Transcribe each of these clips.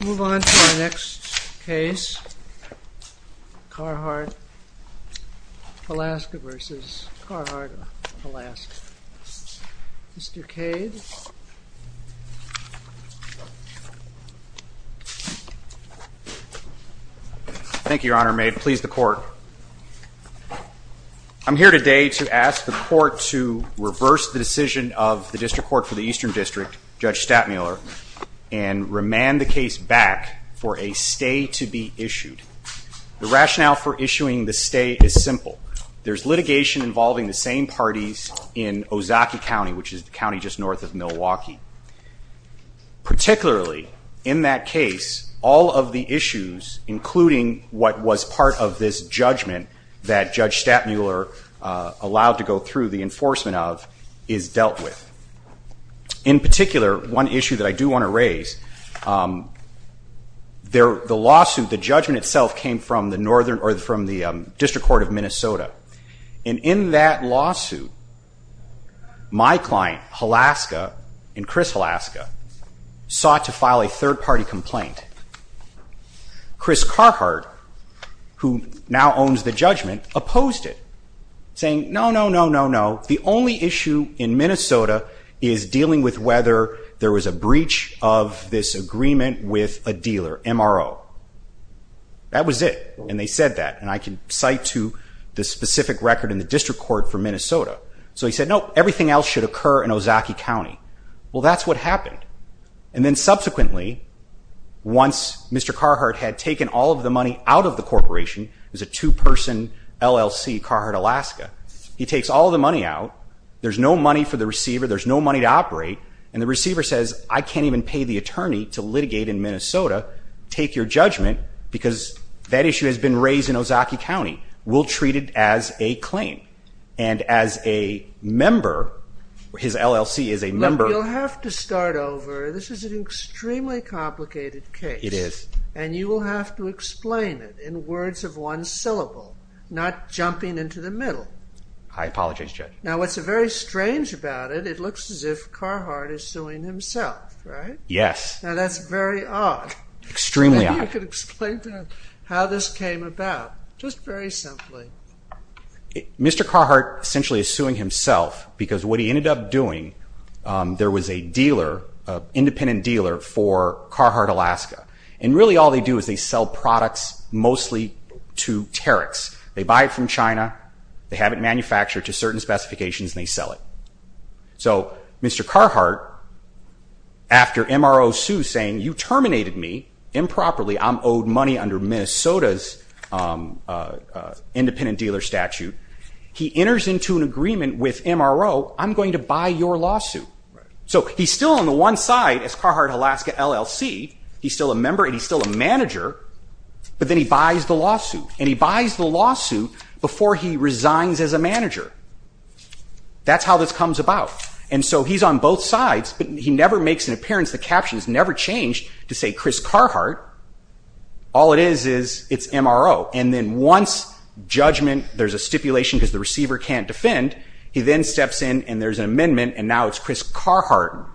We'll move on to our next case, Carhart-Halaska v. Carhart-Halaska. Mr. Cade. Thank you, Your Honor. May it please the Court. I'm here today to ask the Court to reverse the decision of the District Court for the Eastern District, Judge Stattmuller, and remand the case back for a stay to be issued. The rationale for issuing the stay is simple. There's litigation involving the same parties in Ozaukee County, which is the county just north of Milwaukee. Particularly in that case, all of the issues, including what was part of this judgment that Judge Stattmuller allowed to go through the enforcement of, is dealt with. In particular, one issue that I do want to raise, the lawsuit, the judgment itself, came from the District Court of Minnesota. And in that lawsuit, my client, Halaska, and Chris Halaska, sought to file a third-party complaint. Chris Carhart, who now owns the judgment, opposed it, saying, no, no, no, no, no. The only issue in Minnesota is dealing with whether there was a breach of this agreement with a dealer, MRO. That was it, and they said that, and I can cite to the specific record in the District Court for Minnesota. So he said, no, everything else should occur in Ozaukee County. Well, that's what happened. And then subsequently, once Mr. Carhart had taken all of the money out of the corporation, it was a two-person LLC, Carhart, Alaska. He takes all the money out. There's no money for the receiver. There's no money to operate. And the receiver says, I can't even pay the attorney to litigate in Minnesota. Take your judgment, because that issue has been raised in Ozaukee County. We'll treat it as a claim. And as a member, his LLC is a member. Look, you'll have to start over. This is an extremely complicated case. It is. And you will have to explain it in words of one syllable, not jumping into the middle. I apologize, Judge. Now, what's very strange about it, it looks as if Carhart is suing himself, right? Yes. Now, that's very odd. Extremely odd. Maybe you could explain to him how this came about, just very simply. Mr. Carhart essentially is suing himself, because what he ended up doing, there was a dealer, an independent dealer for Carhart, Alaska. And really all they do is they sell products mostly to tariffs. They buy it from China. They have it manufactured to certain specifications, and they sell it. So Mr. Carhart, after MRO sued, saying, you terminated me improperly, I'm owed money under Minnesota's independent dealer statute, he enters into an agreement with MRO, I'm going to buy your lawsuit. So he's still on the one side as Carhart, Alaska, LLC. He's still a member, and he's still a manager, but then he buys the lawsuit. And he buys the lawsuit before he resigns as a manager. That's how this comes about. And so he's on both sides, but he never makes an appearance. The caption has never changed to say Chris Carhart. All it is is it's MRO. And then once judgment, there's a stipulation because the receiver can't defend, he then steps in and there's an amendment, and now it's Chris Carhart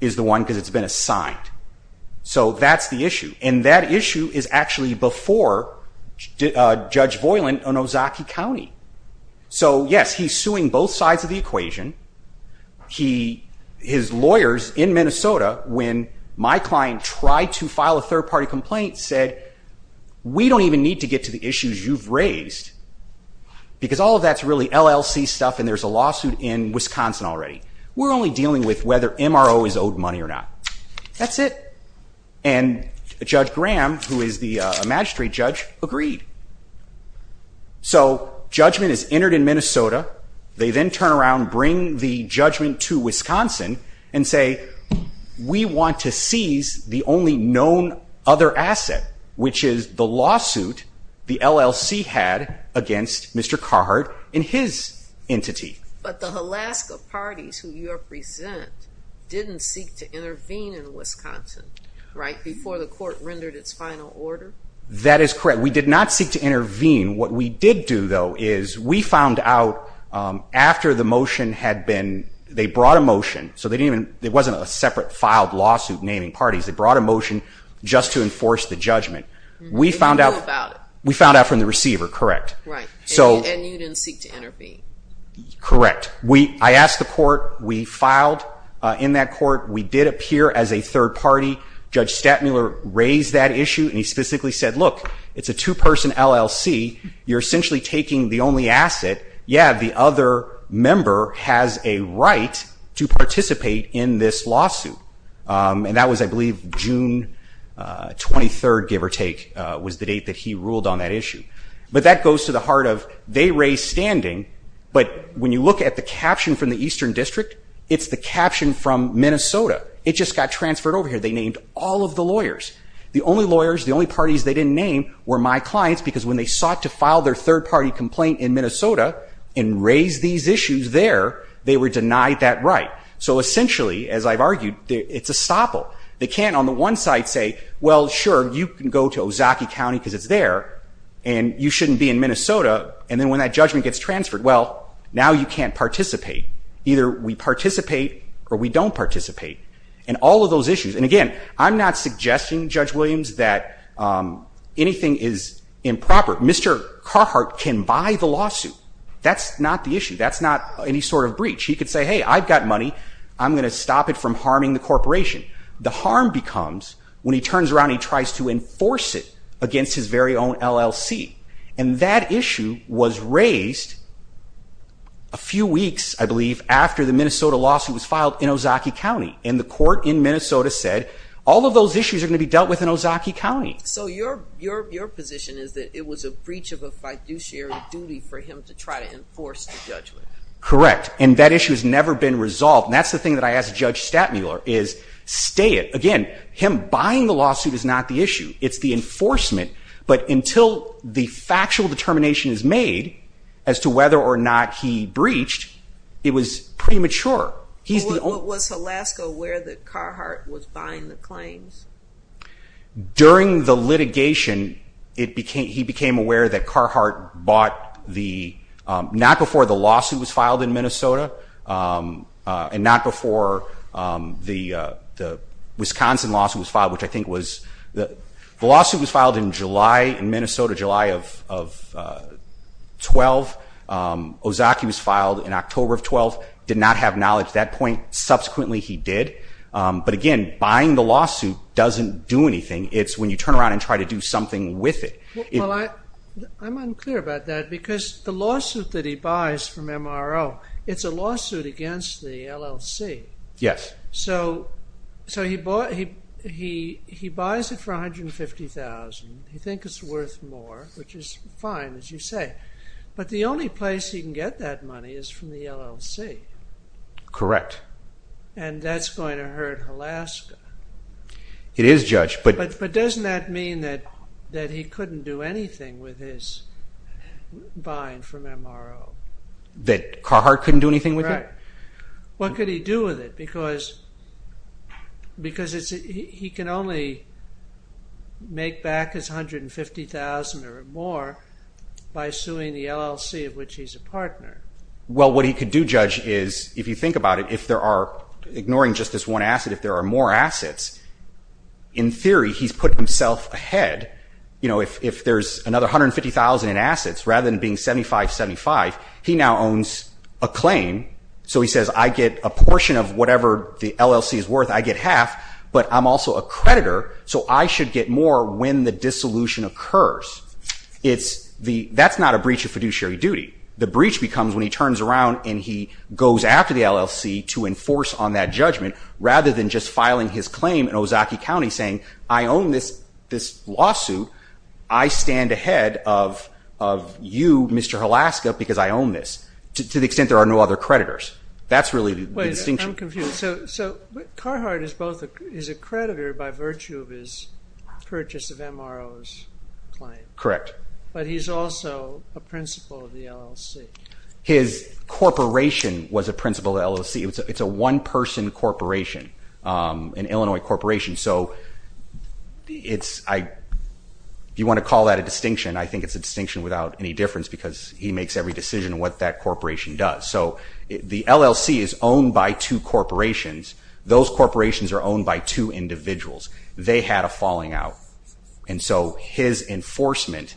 is the one because it's been assigned. So that's the issue. And that issue is actually before Judge Voiland in Ozaukee County. So yes, he's suing both sides of the equation. His lawyers in Minnesota, when my client tried to file a third-party complaint, said we don't even need to get to the issues you've raised because all of that's really LLC stuff and there's a lawsuit in Wisconsin already. We're only dealing with whether MRO is owed money or not. That's it. And Judge Graham, who is the magistrate judge, agreed. So judgment is entered in Minnesota. They then turn around, bring the judgment to Wisconsin, and say we want to seize the only known other asset, which is the lawsuit the LLC had against Mr. Carhart and his entity. But the Alaska parties who you represent didn't seek to intervene in Wisconsin, right, before the court rendered its final order? That is correct. We did not seek to intervene. What we did do, though, is we found out after the motion had been, they brought a motion. So it wasn't a separate filed lawsuit naming parties. They brought a motion just to enforce the judgment. We found out from the receiver, correct. Right. And you didn't seek to intervene. Correct. I asked the court. We filed in that court. We did appear as a third party. Judge Statmuller raised that issue, and he specifically said, look, it's a two-person LLC. You're essentially taking the only asset. Yeah, the other member has a right to participate in this lawsuit. And that was, I believe, June 23rd, give or take, was the date that he ruled on that issue. But that goes to the heart of they raised standing, but when you look at the caption from the Eastern District, it's the caption from Minnesota. It just got transferred over here. They named all of the lawyers. The only lawyers, the only parties they didn't name were my clients, because when they sought to file their third-party complaint in Minnesota and raise these issues there, they were denied that right. So essentially, as I've argued, it's a stopple. They can't, on the one side, say, well, sure, you can go to Ozaukee County because it's there, and you shouldn't be in Minnesota. And then when that judgment gets transferred, well, now you can't participate. Either we participate or we don't participate. And all of those issues. And, again, I'm not suggesting, Judge Williams, that anything is improper. Mr. Carhart can buy the lawsuit. That's not the issue. That's not any sort of breach. He could say, hey, I've got money. I'm going to stop it from harming the corporation. The harm becomes when he turns around and he tries to enforce it against his very own LLC. And that issue was raised a few weeks, I believe, after the Minnesota lawsuit was filed in Ozaukee County. And the court in Minnesota said, all of those issues are going to be dealt with in Ozaukee County. So your position is that it was a breach of a fiduciary duty for him to try to enforce the judgment. Correct. And that issue has never been resolved. And that's the thing that I asked Judge Stattmuller, is stay it. Again, him buying the lawsuit is not the issue. It's the enforcement. But until the factual determination is made as to whether or not he breached, it was premature. Was Alaska aware that Carhartt was buying the claims? During the litigation, he became aware that Carhartt bought not before the lawsuit was filed in Minnesota and not before the Wisconsin lawsuit was filed, which I think was the lawsuit was filed in July in Minnesota, July of 12. Ozaukee was filed in October of 12. Did not have knowledge at that point. Subsequently, he did. But, again, buying the lawsuit doesn't do anything. It's when you turn around and try to do something with it. Well, I'm unclear about that because the lawsuit that he buys from MRO, it's a lawsuit against the LLC. Yes. So he buys it for $150,000. He thinks it's worth more, which is fine, as you say. But the only place he can get that money is from the LLC. Correct. And that's going to hurt Alaska. It is, Judge. But doesn't that mean that he couldn't do anything with his buying from MRO? That Carhartt couldn't do anything with it? Right. What could he do with it? Because he can only make back his $150,000 or more by suing the LLC, of which he's a partner. Well, what he could do, Judge, is, if you think about it, if there are, ignoring just this one asset, if there are more assets, in theory he's put himself ahead. If there's another $150,000 in assets, rather than being 75-75, he now owns a claim. So he says, I get a portion of whatever the LLC is worth. I get half, but I'm also a creditor, so I should get more when the dissolution occurs. That's not a breach of fiduciary duty. The breach becomes when he turns around and he goes after the LLC to enforce on that judgment, rather than just filing his claim in Ozaki County saying, I own this lawsuit. I stand ahead of you, Mr. Alaska, because I own this. To the extent there are no other creditors. That's really the distinction. Wait, I'm confused. So Carhartt is a creditor by virtue of his purchase of MRO's claim. Correct. But he's also a principal of the LLC. His corporation was a principal of the LLC. It's a one-person corporation, an Illinois corporation. So if you want to call that a distinction, I think it's a distinction without any difference, because he makes every decision on what that corporation does. So the LLC is owned by two corporations. Those corporations are owned by two individuals. They had a falling out. And so his enforcement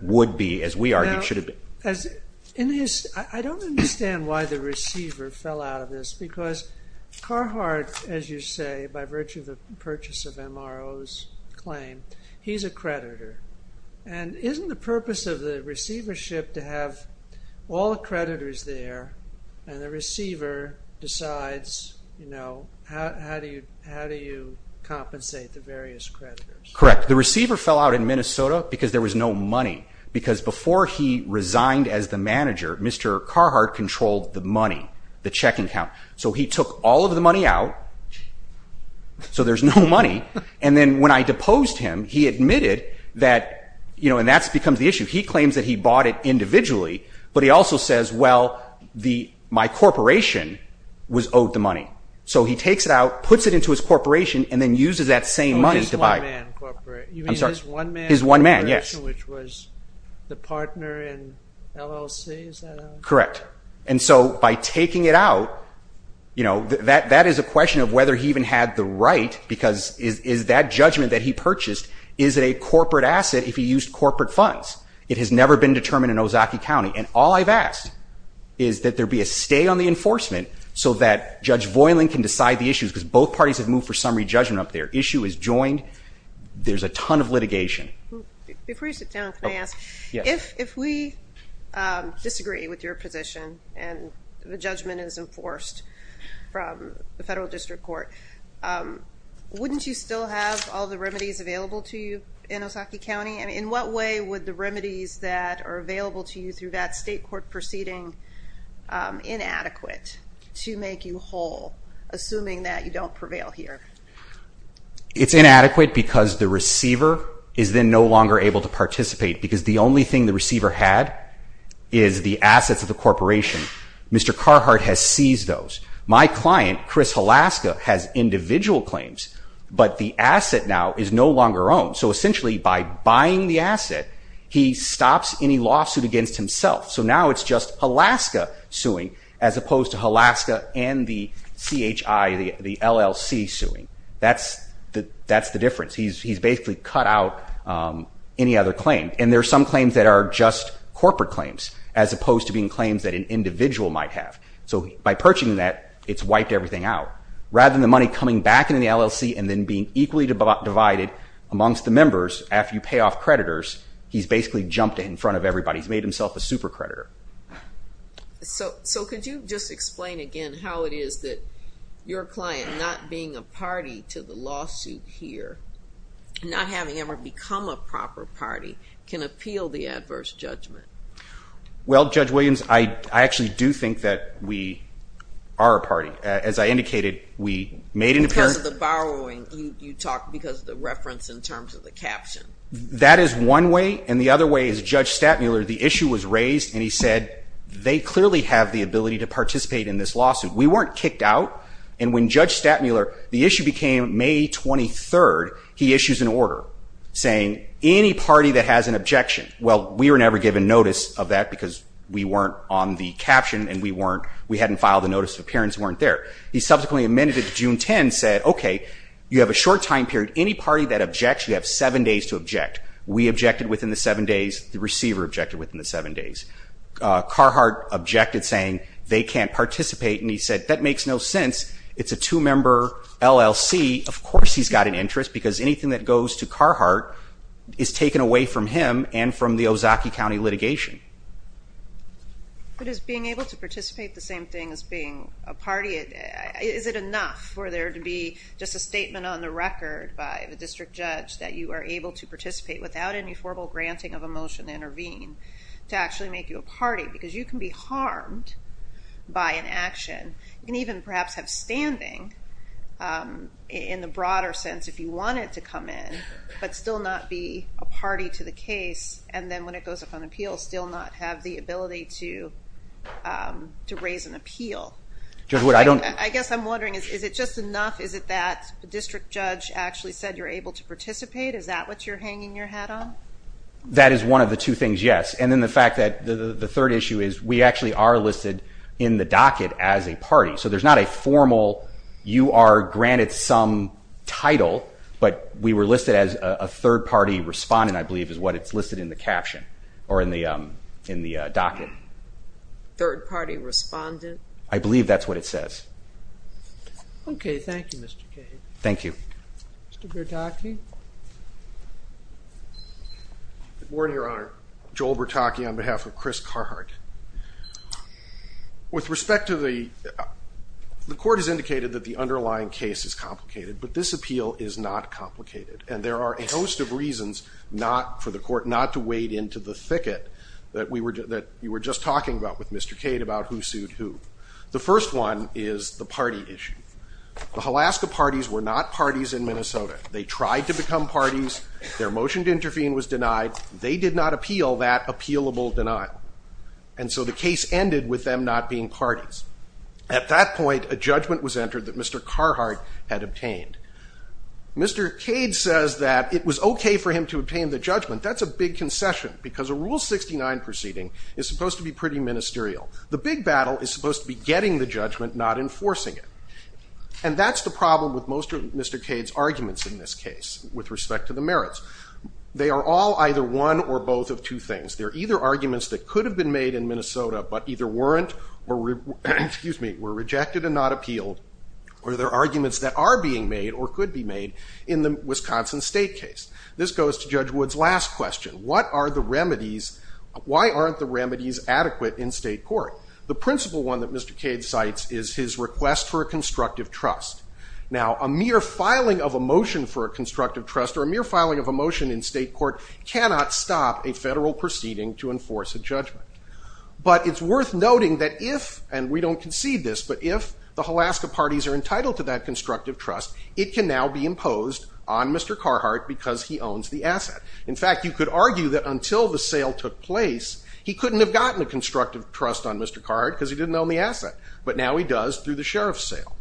would be, as we argue, should have been. I don't understand why the receiver fell out of this, because Carhartt, as you say, by virtue of the purchase of MRO's claim, he's a creditor. And isn't the purpose of the receivership to have all the creditors there, and the receiver decides how do you compensate the various creditors? Correct. The receiver fell out in Minnesota because there was no money. Because before he resigned as the manager, Mr. Carhartt controlled the money, the checking count. So he took all of the money out, so there's no money. And then when I deposed him, he admitted that, and that becomes the issue, he claims that he bought it individually, but he also says, well, my corporation was owed the money. So he takes it out, puts it into his corporation, and then uses that same money to buy it. Oh, his one-man corporation? I'm sorry? You mean his one-man corporation? His one-man, yes. Which was the partner in LLC, is that it? Correct. And so by taking it out, that is a question of whether he even had the right, because is that judgment that he purchased, is it a corporate asset if he used corporate funds? It has never been determined in Ozaukee County. And all I've asked is that there be a stay on the enforcement so that Judge Voiland can decide the issues, because both parties have moved for summary judgment up there. Issue is joined. There's a ton of litigation. Before you sit down, can I ask, if we disagree with your position and the judgment is enforced from the federal district court, wouldn't you still have all the remedies available to you in Ozaukee County? In what way would the remedies that are available to you through that state court proceeding inadequate to make you whole, assuming that you don't prevail here? It's inadequate because the receiver is then no longer able to participate, because the only thing the receiver had is the assets of the corporation. Mr. Carhart has seized those. My client, Chris Halaska, has individual claims, but the asset now is no longer owned. So essentially by buying the asset, he stops any lawsuit against himself. So now it's just Halaska suing as opposed to Halaska and the CHI, the LLC suing. That's the difference. He's basically cut out any other claim. And there are some claims that are just corporate claims as opposed to being claims that an individual might have. So by purchasing that, it's wiped everything out. Rather than the money coming back into the LLC and then being equally divided amongst the members after you pay off creditors, he's basically jumped in front of everybody. He's made himself a super creditor. So could you just explain again how it is that your client, not being a party to the lawsuit here, not having ever become a proper party, can appeal the adverse judgment? Well, Judge Williams, I actually do think that we are a party. As I indicated, we made an appearance. Because of the borrowing, you talked, because of the reference in terms of the caption. That is one way. And the other way is Judge Statmuller, the issue was raised, and he said they clearly have the ability to participate in this lawsuit. We weren't kicked out. And when Judge Statmuller, the issue became May 23rd, he issues an order saying any party that has an objection, well, we were never given notice of that because we weren't on the caption and we hadn't filed a notice of appearance and weren't there. He subsequently amended it to June 10 and said, okay, you have a short time period. Any party that objects, you have seven days to object. We objected within the seven days. The receiver objected within the seven days. Carhart objected saying they can't participate. And he said, that makes no sense. It's a two-member LLC. Of course he's got an interest because anything that goes to Carhart is taken away from him and from the Ozaukee County litigation. But is being able to participate the same thing as being a party? Is it enough for there to be just a statement on the record by the district judge that you are able to participate without any formal granting of a motion to intervene to actually make you a party? Because you can be harmed by an action and even perhaps have standing in the broader sense if you wanted to come in, but still not be a party to the case and then when it goes up on appeal still not have the ability to raise an appeal. I guess I'm wondering, is it just enough? Is it that the district judge actually said you're able to participate? Is that what you're hanging your hat on? That is one of the two things, yes. And then the fact that the third issue is we actually are listed in the docket as a party. So there's not a formal, you are granted some title, but we were listed as a third-party respondent I believe is what it's listed in the caption or in the docket. Third-party respondent? I believe that's what it says. Okay, thank you, Mr. Cade. Thank you. Mr. Bertocchi? Good morning, Your Honor. Joel Bertocchi on behalf of Chris Carhart. With respect to the court has indicated that the underlying case is complicated, but this appeal is not complicated. And there are a host of reasons for the court not to wade into the thicket that you were just talking about with Mr. Cade about who sued who. The first one is the party issue. The Alaska parties were not parties in Minnesota. They tried to become parties. Their motion to intervene was denied. They did not appeal that appealable denial. And so the case ended with them not being parties. At that point, a judgment was entered that Mr. Carhart had obtained. Mr. Cade says that it was okay for him to obtain the judgment. That's a big concession because a Rule 69 proceeding is supposed to be pretty ministerial. The big battle is supposed to be getting the judgment, not enforcing it. And that's the problem with most of Mr. Cade's arguments in this case with respect to the merits. They are all either one or both of two things. They're either arguments that could have been made in Minnesota but either weren't or were rejected and not appealed, or they're arguments that are being made or could be made in the Wisconsin state case. This goes to Judge Wood's last question. What are the remedies? Why aren't the remedies adequate in state court? The principal one that Mr. Cade cites is his request for a constructive trust. Now, a mere filing of a motion for a constructive trust or a mere filing of a motion in state court cannot stop a federal proceeding to enforce a judgment. But it's worth noting that if, and we don't concede this, but if the Alaska parties are entitled to that constructive trust, it can now be imposed on Mr. Carhartt because he owns the asset. In fact, you could argue that until the sale took place, he couldn't have gotten a constructive trust on Mr. Carhartt because But now he does through the sheriff's sale.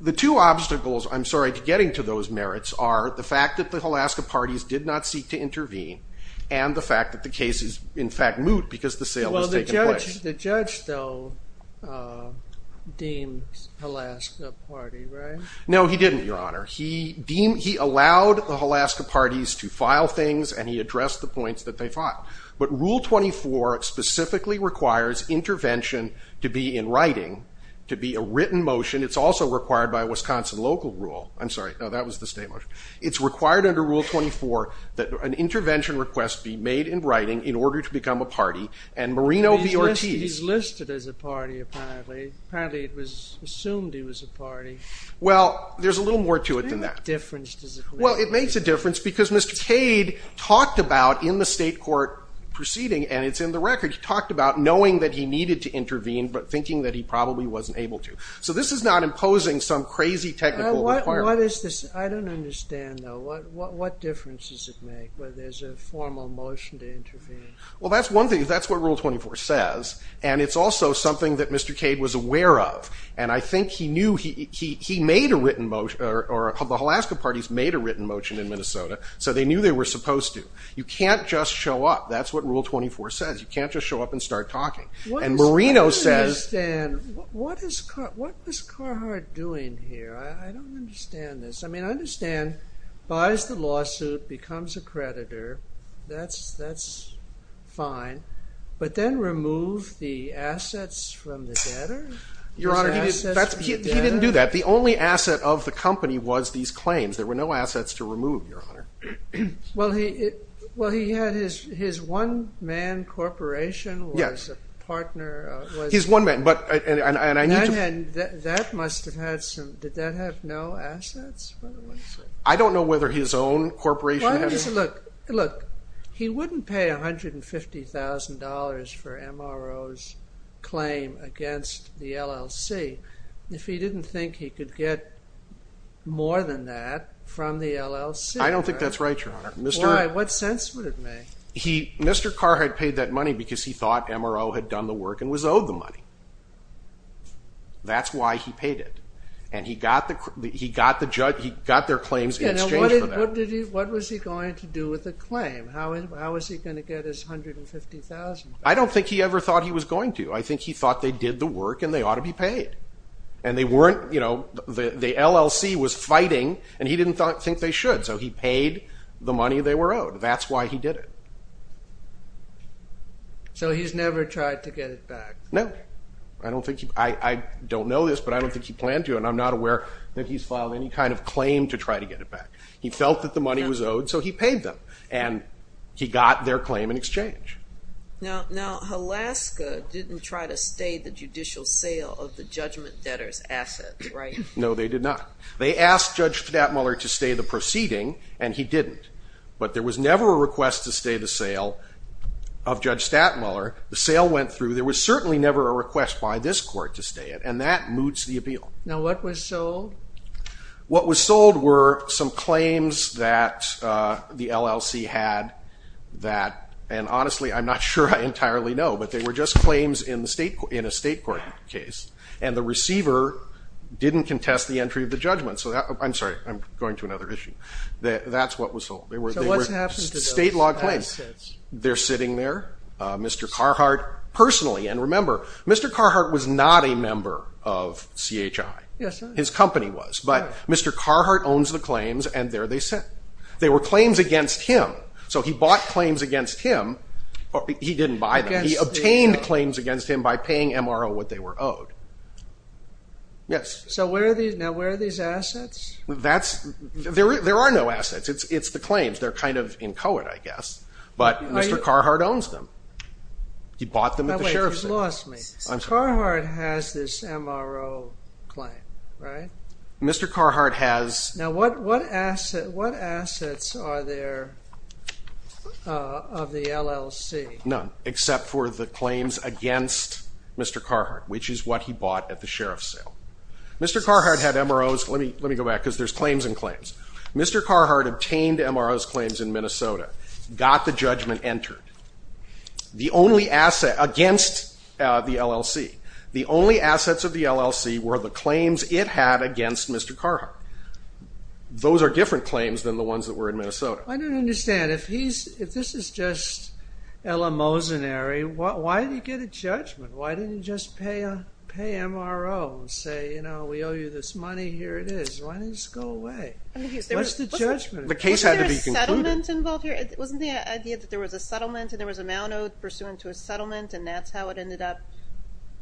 The two obstacles, I'm sorry, to getting to those merits are the fact that the Alaska parties did not seek to intervene and the fact that the case is, in fact, moot because the sale has taken place. Well, the judge, though, deems Alaska Party, right? No, he didn't, Your Honor. He allowed the Alaska parties to file things and he addressed the points that they filed. But Rule 24 specifically requires intervention to be in writing, to be a written motion. It's also required by Wisconsin local rule. I'm sorry. No, that was the state motion. It's required under Rule 24 that an intervention request be made in writing in order to become a party. And Marino v. Ortiz. He's listed as a party, apparently. Apparently it was assumed he was a party. Well, there's a little more to it than that. What difference does it make? Well, it makes a difference because Mr. Cade talked about in the state court proceeding, and it's in the record, he talked about knowing that he needed to intervene but thinking that he probably wasn't able to. So this is not imposing some crazy technical requirement. I don't understand, though. What difference does it make whether there's a formal motion to intervene? Well, that's one thing. That's what Rule 24 says. And it's also something that Mr. Cade was aware of. And I think he knew he made a written motion, or the Alaska parties made a written motion in Minnesota, so they knew they were supposed to. You can't just show up. That's what Rule 24 says. You can't just show up and start talking. I don't understand. What was Carhart doing here? I don't understand this. I mean, I understand buys the lawsuit, becomes a creditor. That's fine. But then remove the assets from the debtor? Your Honor, he didn't do that. The only asset of the company was these claims. There were no assets to remove, Your Honor. Well, he had his one-man corporation. Yes. He was a partner. He's one man. That must have had some. Did that have no assets, by the way? I don't know whether his own corporation had any. Look, he wouldn't pay $150,000 for MRO's claim against the LLC if he didn't think he could get more than that from the LLC. I don't think that's right, Your Honor. Why? What sense would it make? Mr. Carhart paid that money because he thought MRO had done the work and was owed the money. That's why he paid it. And he got their claims in exchange for that. What was he going to do with the claim? How was he going to get his $150,000 back? I don't think he ever thought he was going to. I think he thought they did the work and they ought to be paid. And the LLC was fighting, and he didn't think they should. So he paid the money they were owed. That's why he did it. So he's never tried to get it back? No. I don't know this, but I don't think he planned to, and I'm not aware that he's filed any kind of claim to try to get it back. He felt that the money was owed, so he paid them, and he got their claim in exchange. Now, Alaska didn't try to stay the judicial sale of the judgment debtor's assets, right? No, they did not. They asked Judge Stapmuller to stay the proceeding, and he didn't. But there was never a request to stay the sale of Judge Stapmuller. The sale went through. There was certainly never a request by this court to stay it, and that moots the appeal. Now, what was sold? What was sold were some claims that the LLC had that, and honestly I'm not sure I entirely know, but they were just claims in a state court case, and the receiver didn't contest the entry of the judgment. I'm sorry, I'm going to another issue. That's what was sold. State law claims. They're sitting there. Mr. Carhart, personally, and remember, Mr. Carhart was not a member of CHI. His company was, but Mr. Carhart owns the claims, and there they sit. They were claims against him, so he bought claims against him. He didn't buy them. He obtained claims against him by paying MRO what they were owed. Yes? Now, where are these assets? There are no assets. It's the claims. They're kind of inchoate, I guess, but Mr. Carhart owns them. He bought them at the sheriff's sale. Wait, you've lost me. Carhart has this MRO claim, right? Mr. Carhart has. Now, what assets are there of the LLC? None, except for the claims against Mr. Carhart, which is what he bought at the sheriff's sale. Mr. Carhart had MROs. Let me go back, because there's claims and claims. Mr. Carhart obtained MROs claims in Minnesota, got the judgment entered. The only asset against the LLC, the only assets of the LLC were the claims it had against Mr. Carhart. Those are different claims than the ones that were in Minnesota. I don't understand. If this is just eleemosynary, why did he get a judgment? Why didn't he just pay MRO and say, you know, we owe you this money, here it is? Why didn't it just go away? What's the judgment? The case had to be concluded. Wasn't there a settlement involved here? Wasn't the idea that there was a settlement and there was an amount owed pursuant to a settlement, and that's how it ended up?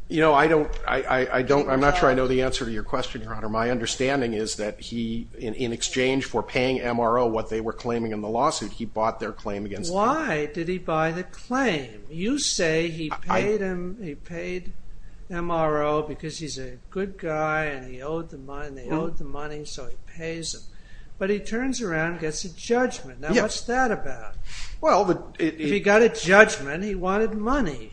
You know, I'm not sure I know the answer to your question, Your Honor. My understanding is that he, in exchange for paying MRO what they were claiming in the lawsuit, he bought their claim against the LLC. Why did he buy the claim? You say he paid MRO because he's a good guy and they owed the money, so he pays him. But he turns around and gets a judgment. Now, what's that about? If he got a judgment, he wanted money.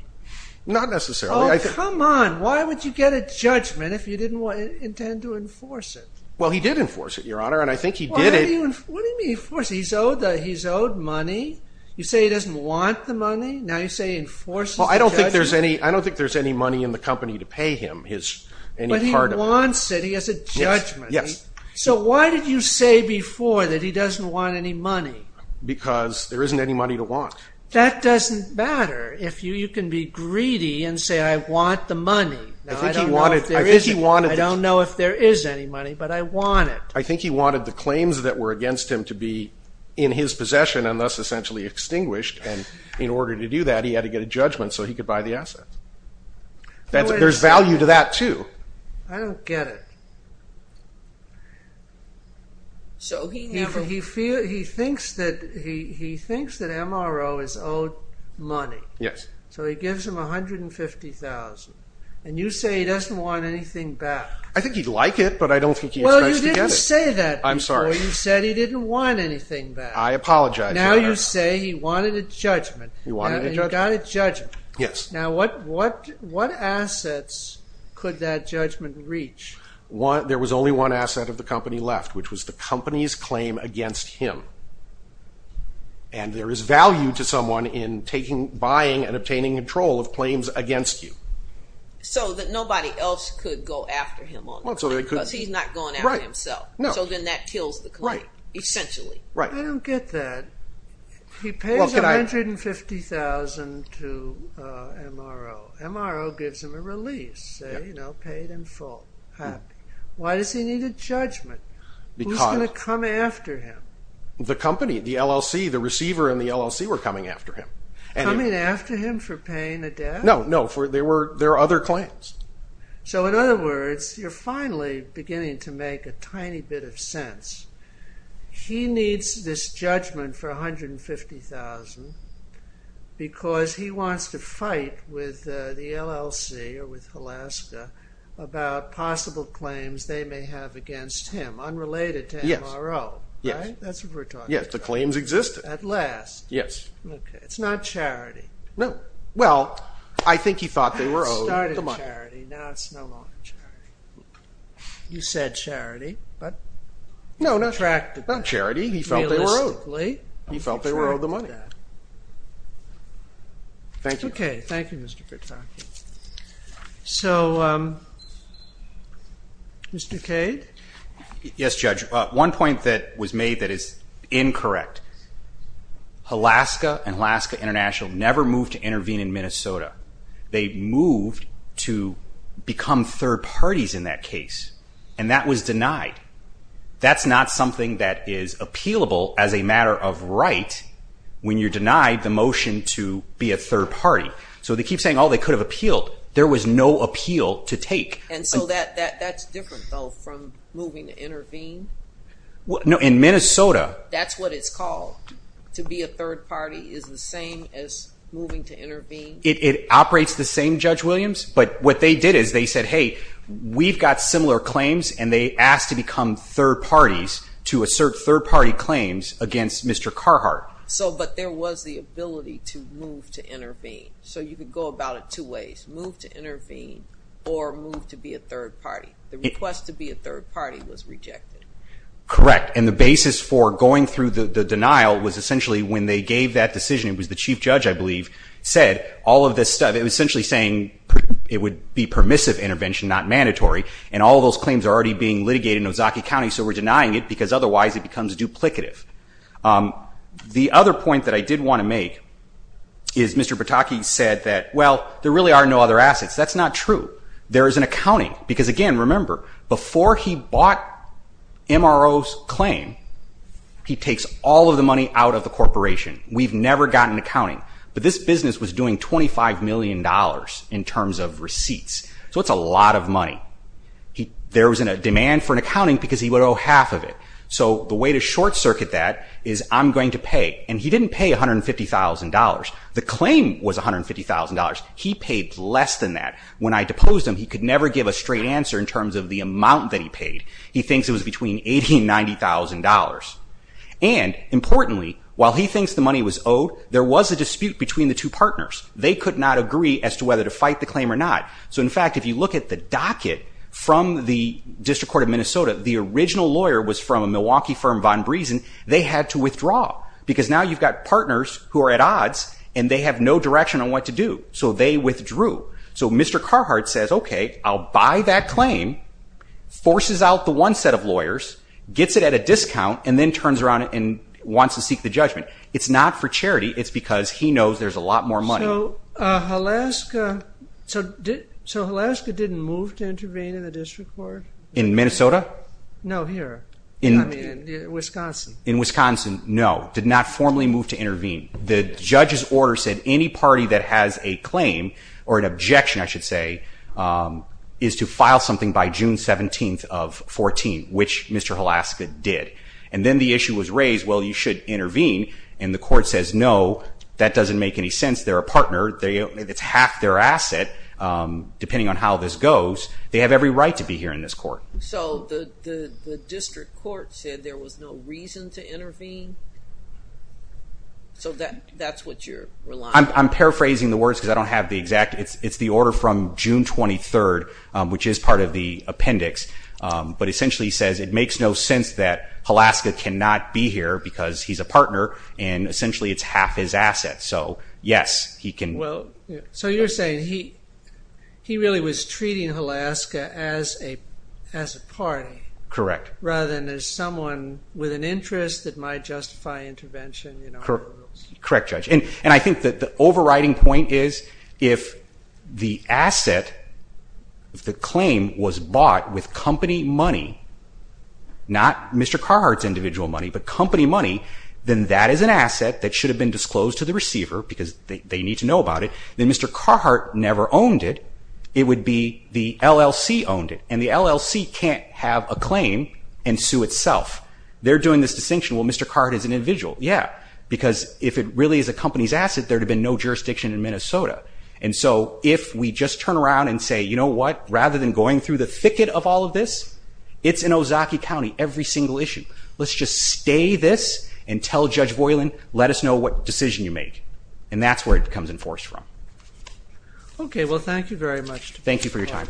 Not necessarily. Oh, come on. Why would you get a judgment if you didn't intend to enforce it? Well, he did enforce it, Your Honor, and I think he did it. What do you mean enforce it? He's owed money. You say he doesn't want the money. Now you say he enforces the judgment. Well, I don't think there's any money in the company to pay him any part of it. But he wants it. He has a judgment. Yes. So why did you say before that he doesn't want any money? Because there isn't any money to want. That doesn't matter. You can be greedy and say I want the money. I don't know if there is any money, but I want it. I think he wanted the claims that were against him to be in his possession and thus essentially extinguished, and in order to do that, he had to get a judgment so he could buy the assets. There's value to that, too. I don't get it. He thinks that MRO is owed money. Yes. So he gives him $150,000, and you say he doesn't want anything back. I think he'd like it, but I don't think he expects to get it. Well, you didn't say that before. I'm sorry. You said he didn't want anything back. I apologize. Now you say he wanted a judgment. He wanted a judgment. He got a judgment. Yes. Now what assets could that judgment reach? There was only one asset of the company left, which was the company's claim against him. And there is value to someone in buying and obtaining control of claims against you. So that nobody else could go after him on the claim, because he's not going after himself. So then that kills the claim, essentially. I don't get that. He pays $150,000 to MRO. MRO gives him a release, you know, paid in full. Why does he need a judgment? Who's going to come after him? The company, the LLC, the receiver in the LLC were coming after him. Coming after him for paying a debt? No, no. There were other claims. So in other words, you're finally beginning to make a tiny bit of sense. He needs this judgment for $150,000 because he wants to fight with the LLC or with Alaska about possible claims they may have against him, unrelated to MRO, right? Yes. That's what we're talking about. Yes, the claims existed. At last. Yes. Okay. It's not charity. No. Well, I think he thought they were owed the money. It started charity. Now it's no longer charity. You said charity. No, not charity. He felt they were owed. He felt they were owed the money. Thank you. Okay. Thank you, Mr. Vitrocki. So, Mr. Cade? Yes, Judge. One point that was made that is incorrect. Alaska and Alaska International never moved to intervene in Minnesota. They moved to become third parties in that case, and that was denied. That's not something that is appealable as a matter of right when you're denied the motion to be a third party. So they keep saying, oh, they could have appealed. There was no appeal to take. And so that's different, though, from moving to intervene? No, in Minnesota. That's what it's called, to be a third party, is the same as moving to intervene? It operates the same, Judge Williams. But what they did is they said, hey, we've got similar claims, and they asked to become third parties to assert third party claims against Mr. Carhart. But there was the ability to move to intervene. So you could go about it two ways, move to intervene or move to be a third party. The request to be a third party was rejected. Correct. And the basis for going through the denial was essentially when they gave that decision, it was the chief judge, I believe, said all of this stuff. It was essentially saying it would be permissive intervention, not mandatory. And all of those claims are already being litigated in Ozaukee County, so we're denying it because otherwise it becomes duplicative. The other point that I did want to make is Mr. Pataki said that, well, there really are no other assets. That's not true. There is an accounting. Because, again, remember, before he bought MRO's claim, he takes all of the money out of the corporation. We've never gotten accounting. But this business was doing $25 million in terms of receipts. So that's a lot of money. There was a demand for an accounting because he would owe half of it. So the way to short circuit that is I'm going to pay. And he didn't pay $150,000. The claim was $150,000. He paid less than that. When I deposed him, he could never give a straight answer in terms of the amount that he paid. He thinks it was between $80,000 and $90,000. And, importantly, while he thinks the money was owed, there was a dispute between the two partners. They could not agree as to whether to fight the claim or not. So, in fact, if you look at the docket from the District Court of Minnesota, the original lawyer was from a Milwaukee firm, Von Briesen. They had to withdraw because now you've got partners who are at odds, and they have no direction on what to do. So they withdrew. So Mr. Carhart says, okay, I'll buy that claim, forces out the one set of lawyers, gets it at a discount, and then turns around and wants to seek the judgment. It's not for charity. It's because he knows there's a lot more money. So Halaska didn't move to intervene in the district court? In Minnesota? No, here, in Wisconsin. In Wisconsin, no, did not formally move to intervene. The judge's order said any party that has a claim or an objection, I should say, is to file something by June 17th of 2014, which Mr. Halaska did. And then the issue was raised, well, you should intervene. And the court says, no, that doesn't make any sense. They're a partner. It's half their asset, depending on how this goes. They have every right to be here in this court. So the district court said there was no reason to intervene? So that's what you're relying on? I'm paraphrasing the words because I don't have the exact. It's the order from June 23rd, which is part of the appendix. But essentially he says it makes no sense that Halaska cannot be here because he's a partner and essentially it's half his asset. So, yes, he can. So you're saying he really was treating Halaska as a party rather than as someone with an interest that might justify intervention? Correct, Judge. And I think that the overriding point is if the asset, if the claim was bought with company money, not Mr. Carhart's individual money, but company money, then that is an asset that should have been disclosed to the receiver because they need to know about it. Then Mr. Carhart never owned it. It would be the LLC owned it. And the LLC can't have a claim and sue itself. They're doing this distinction, well, Mr. Carhart is an individual. Yeah, because if it really is a company's asset, there would have been no jurisdiction in Minnesota. And so if we just turn around and say, you know what, rather than going through the thicket of all of this, it's in Ozaukee County, every single issue. Let's just stay this and tell Judge Voiland, let us know what decision you make. And that's where it becomes enforced from. Okay, well, thank you very much. Thank you for your time.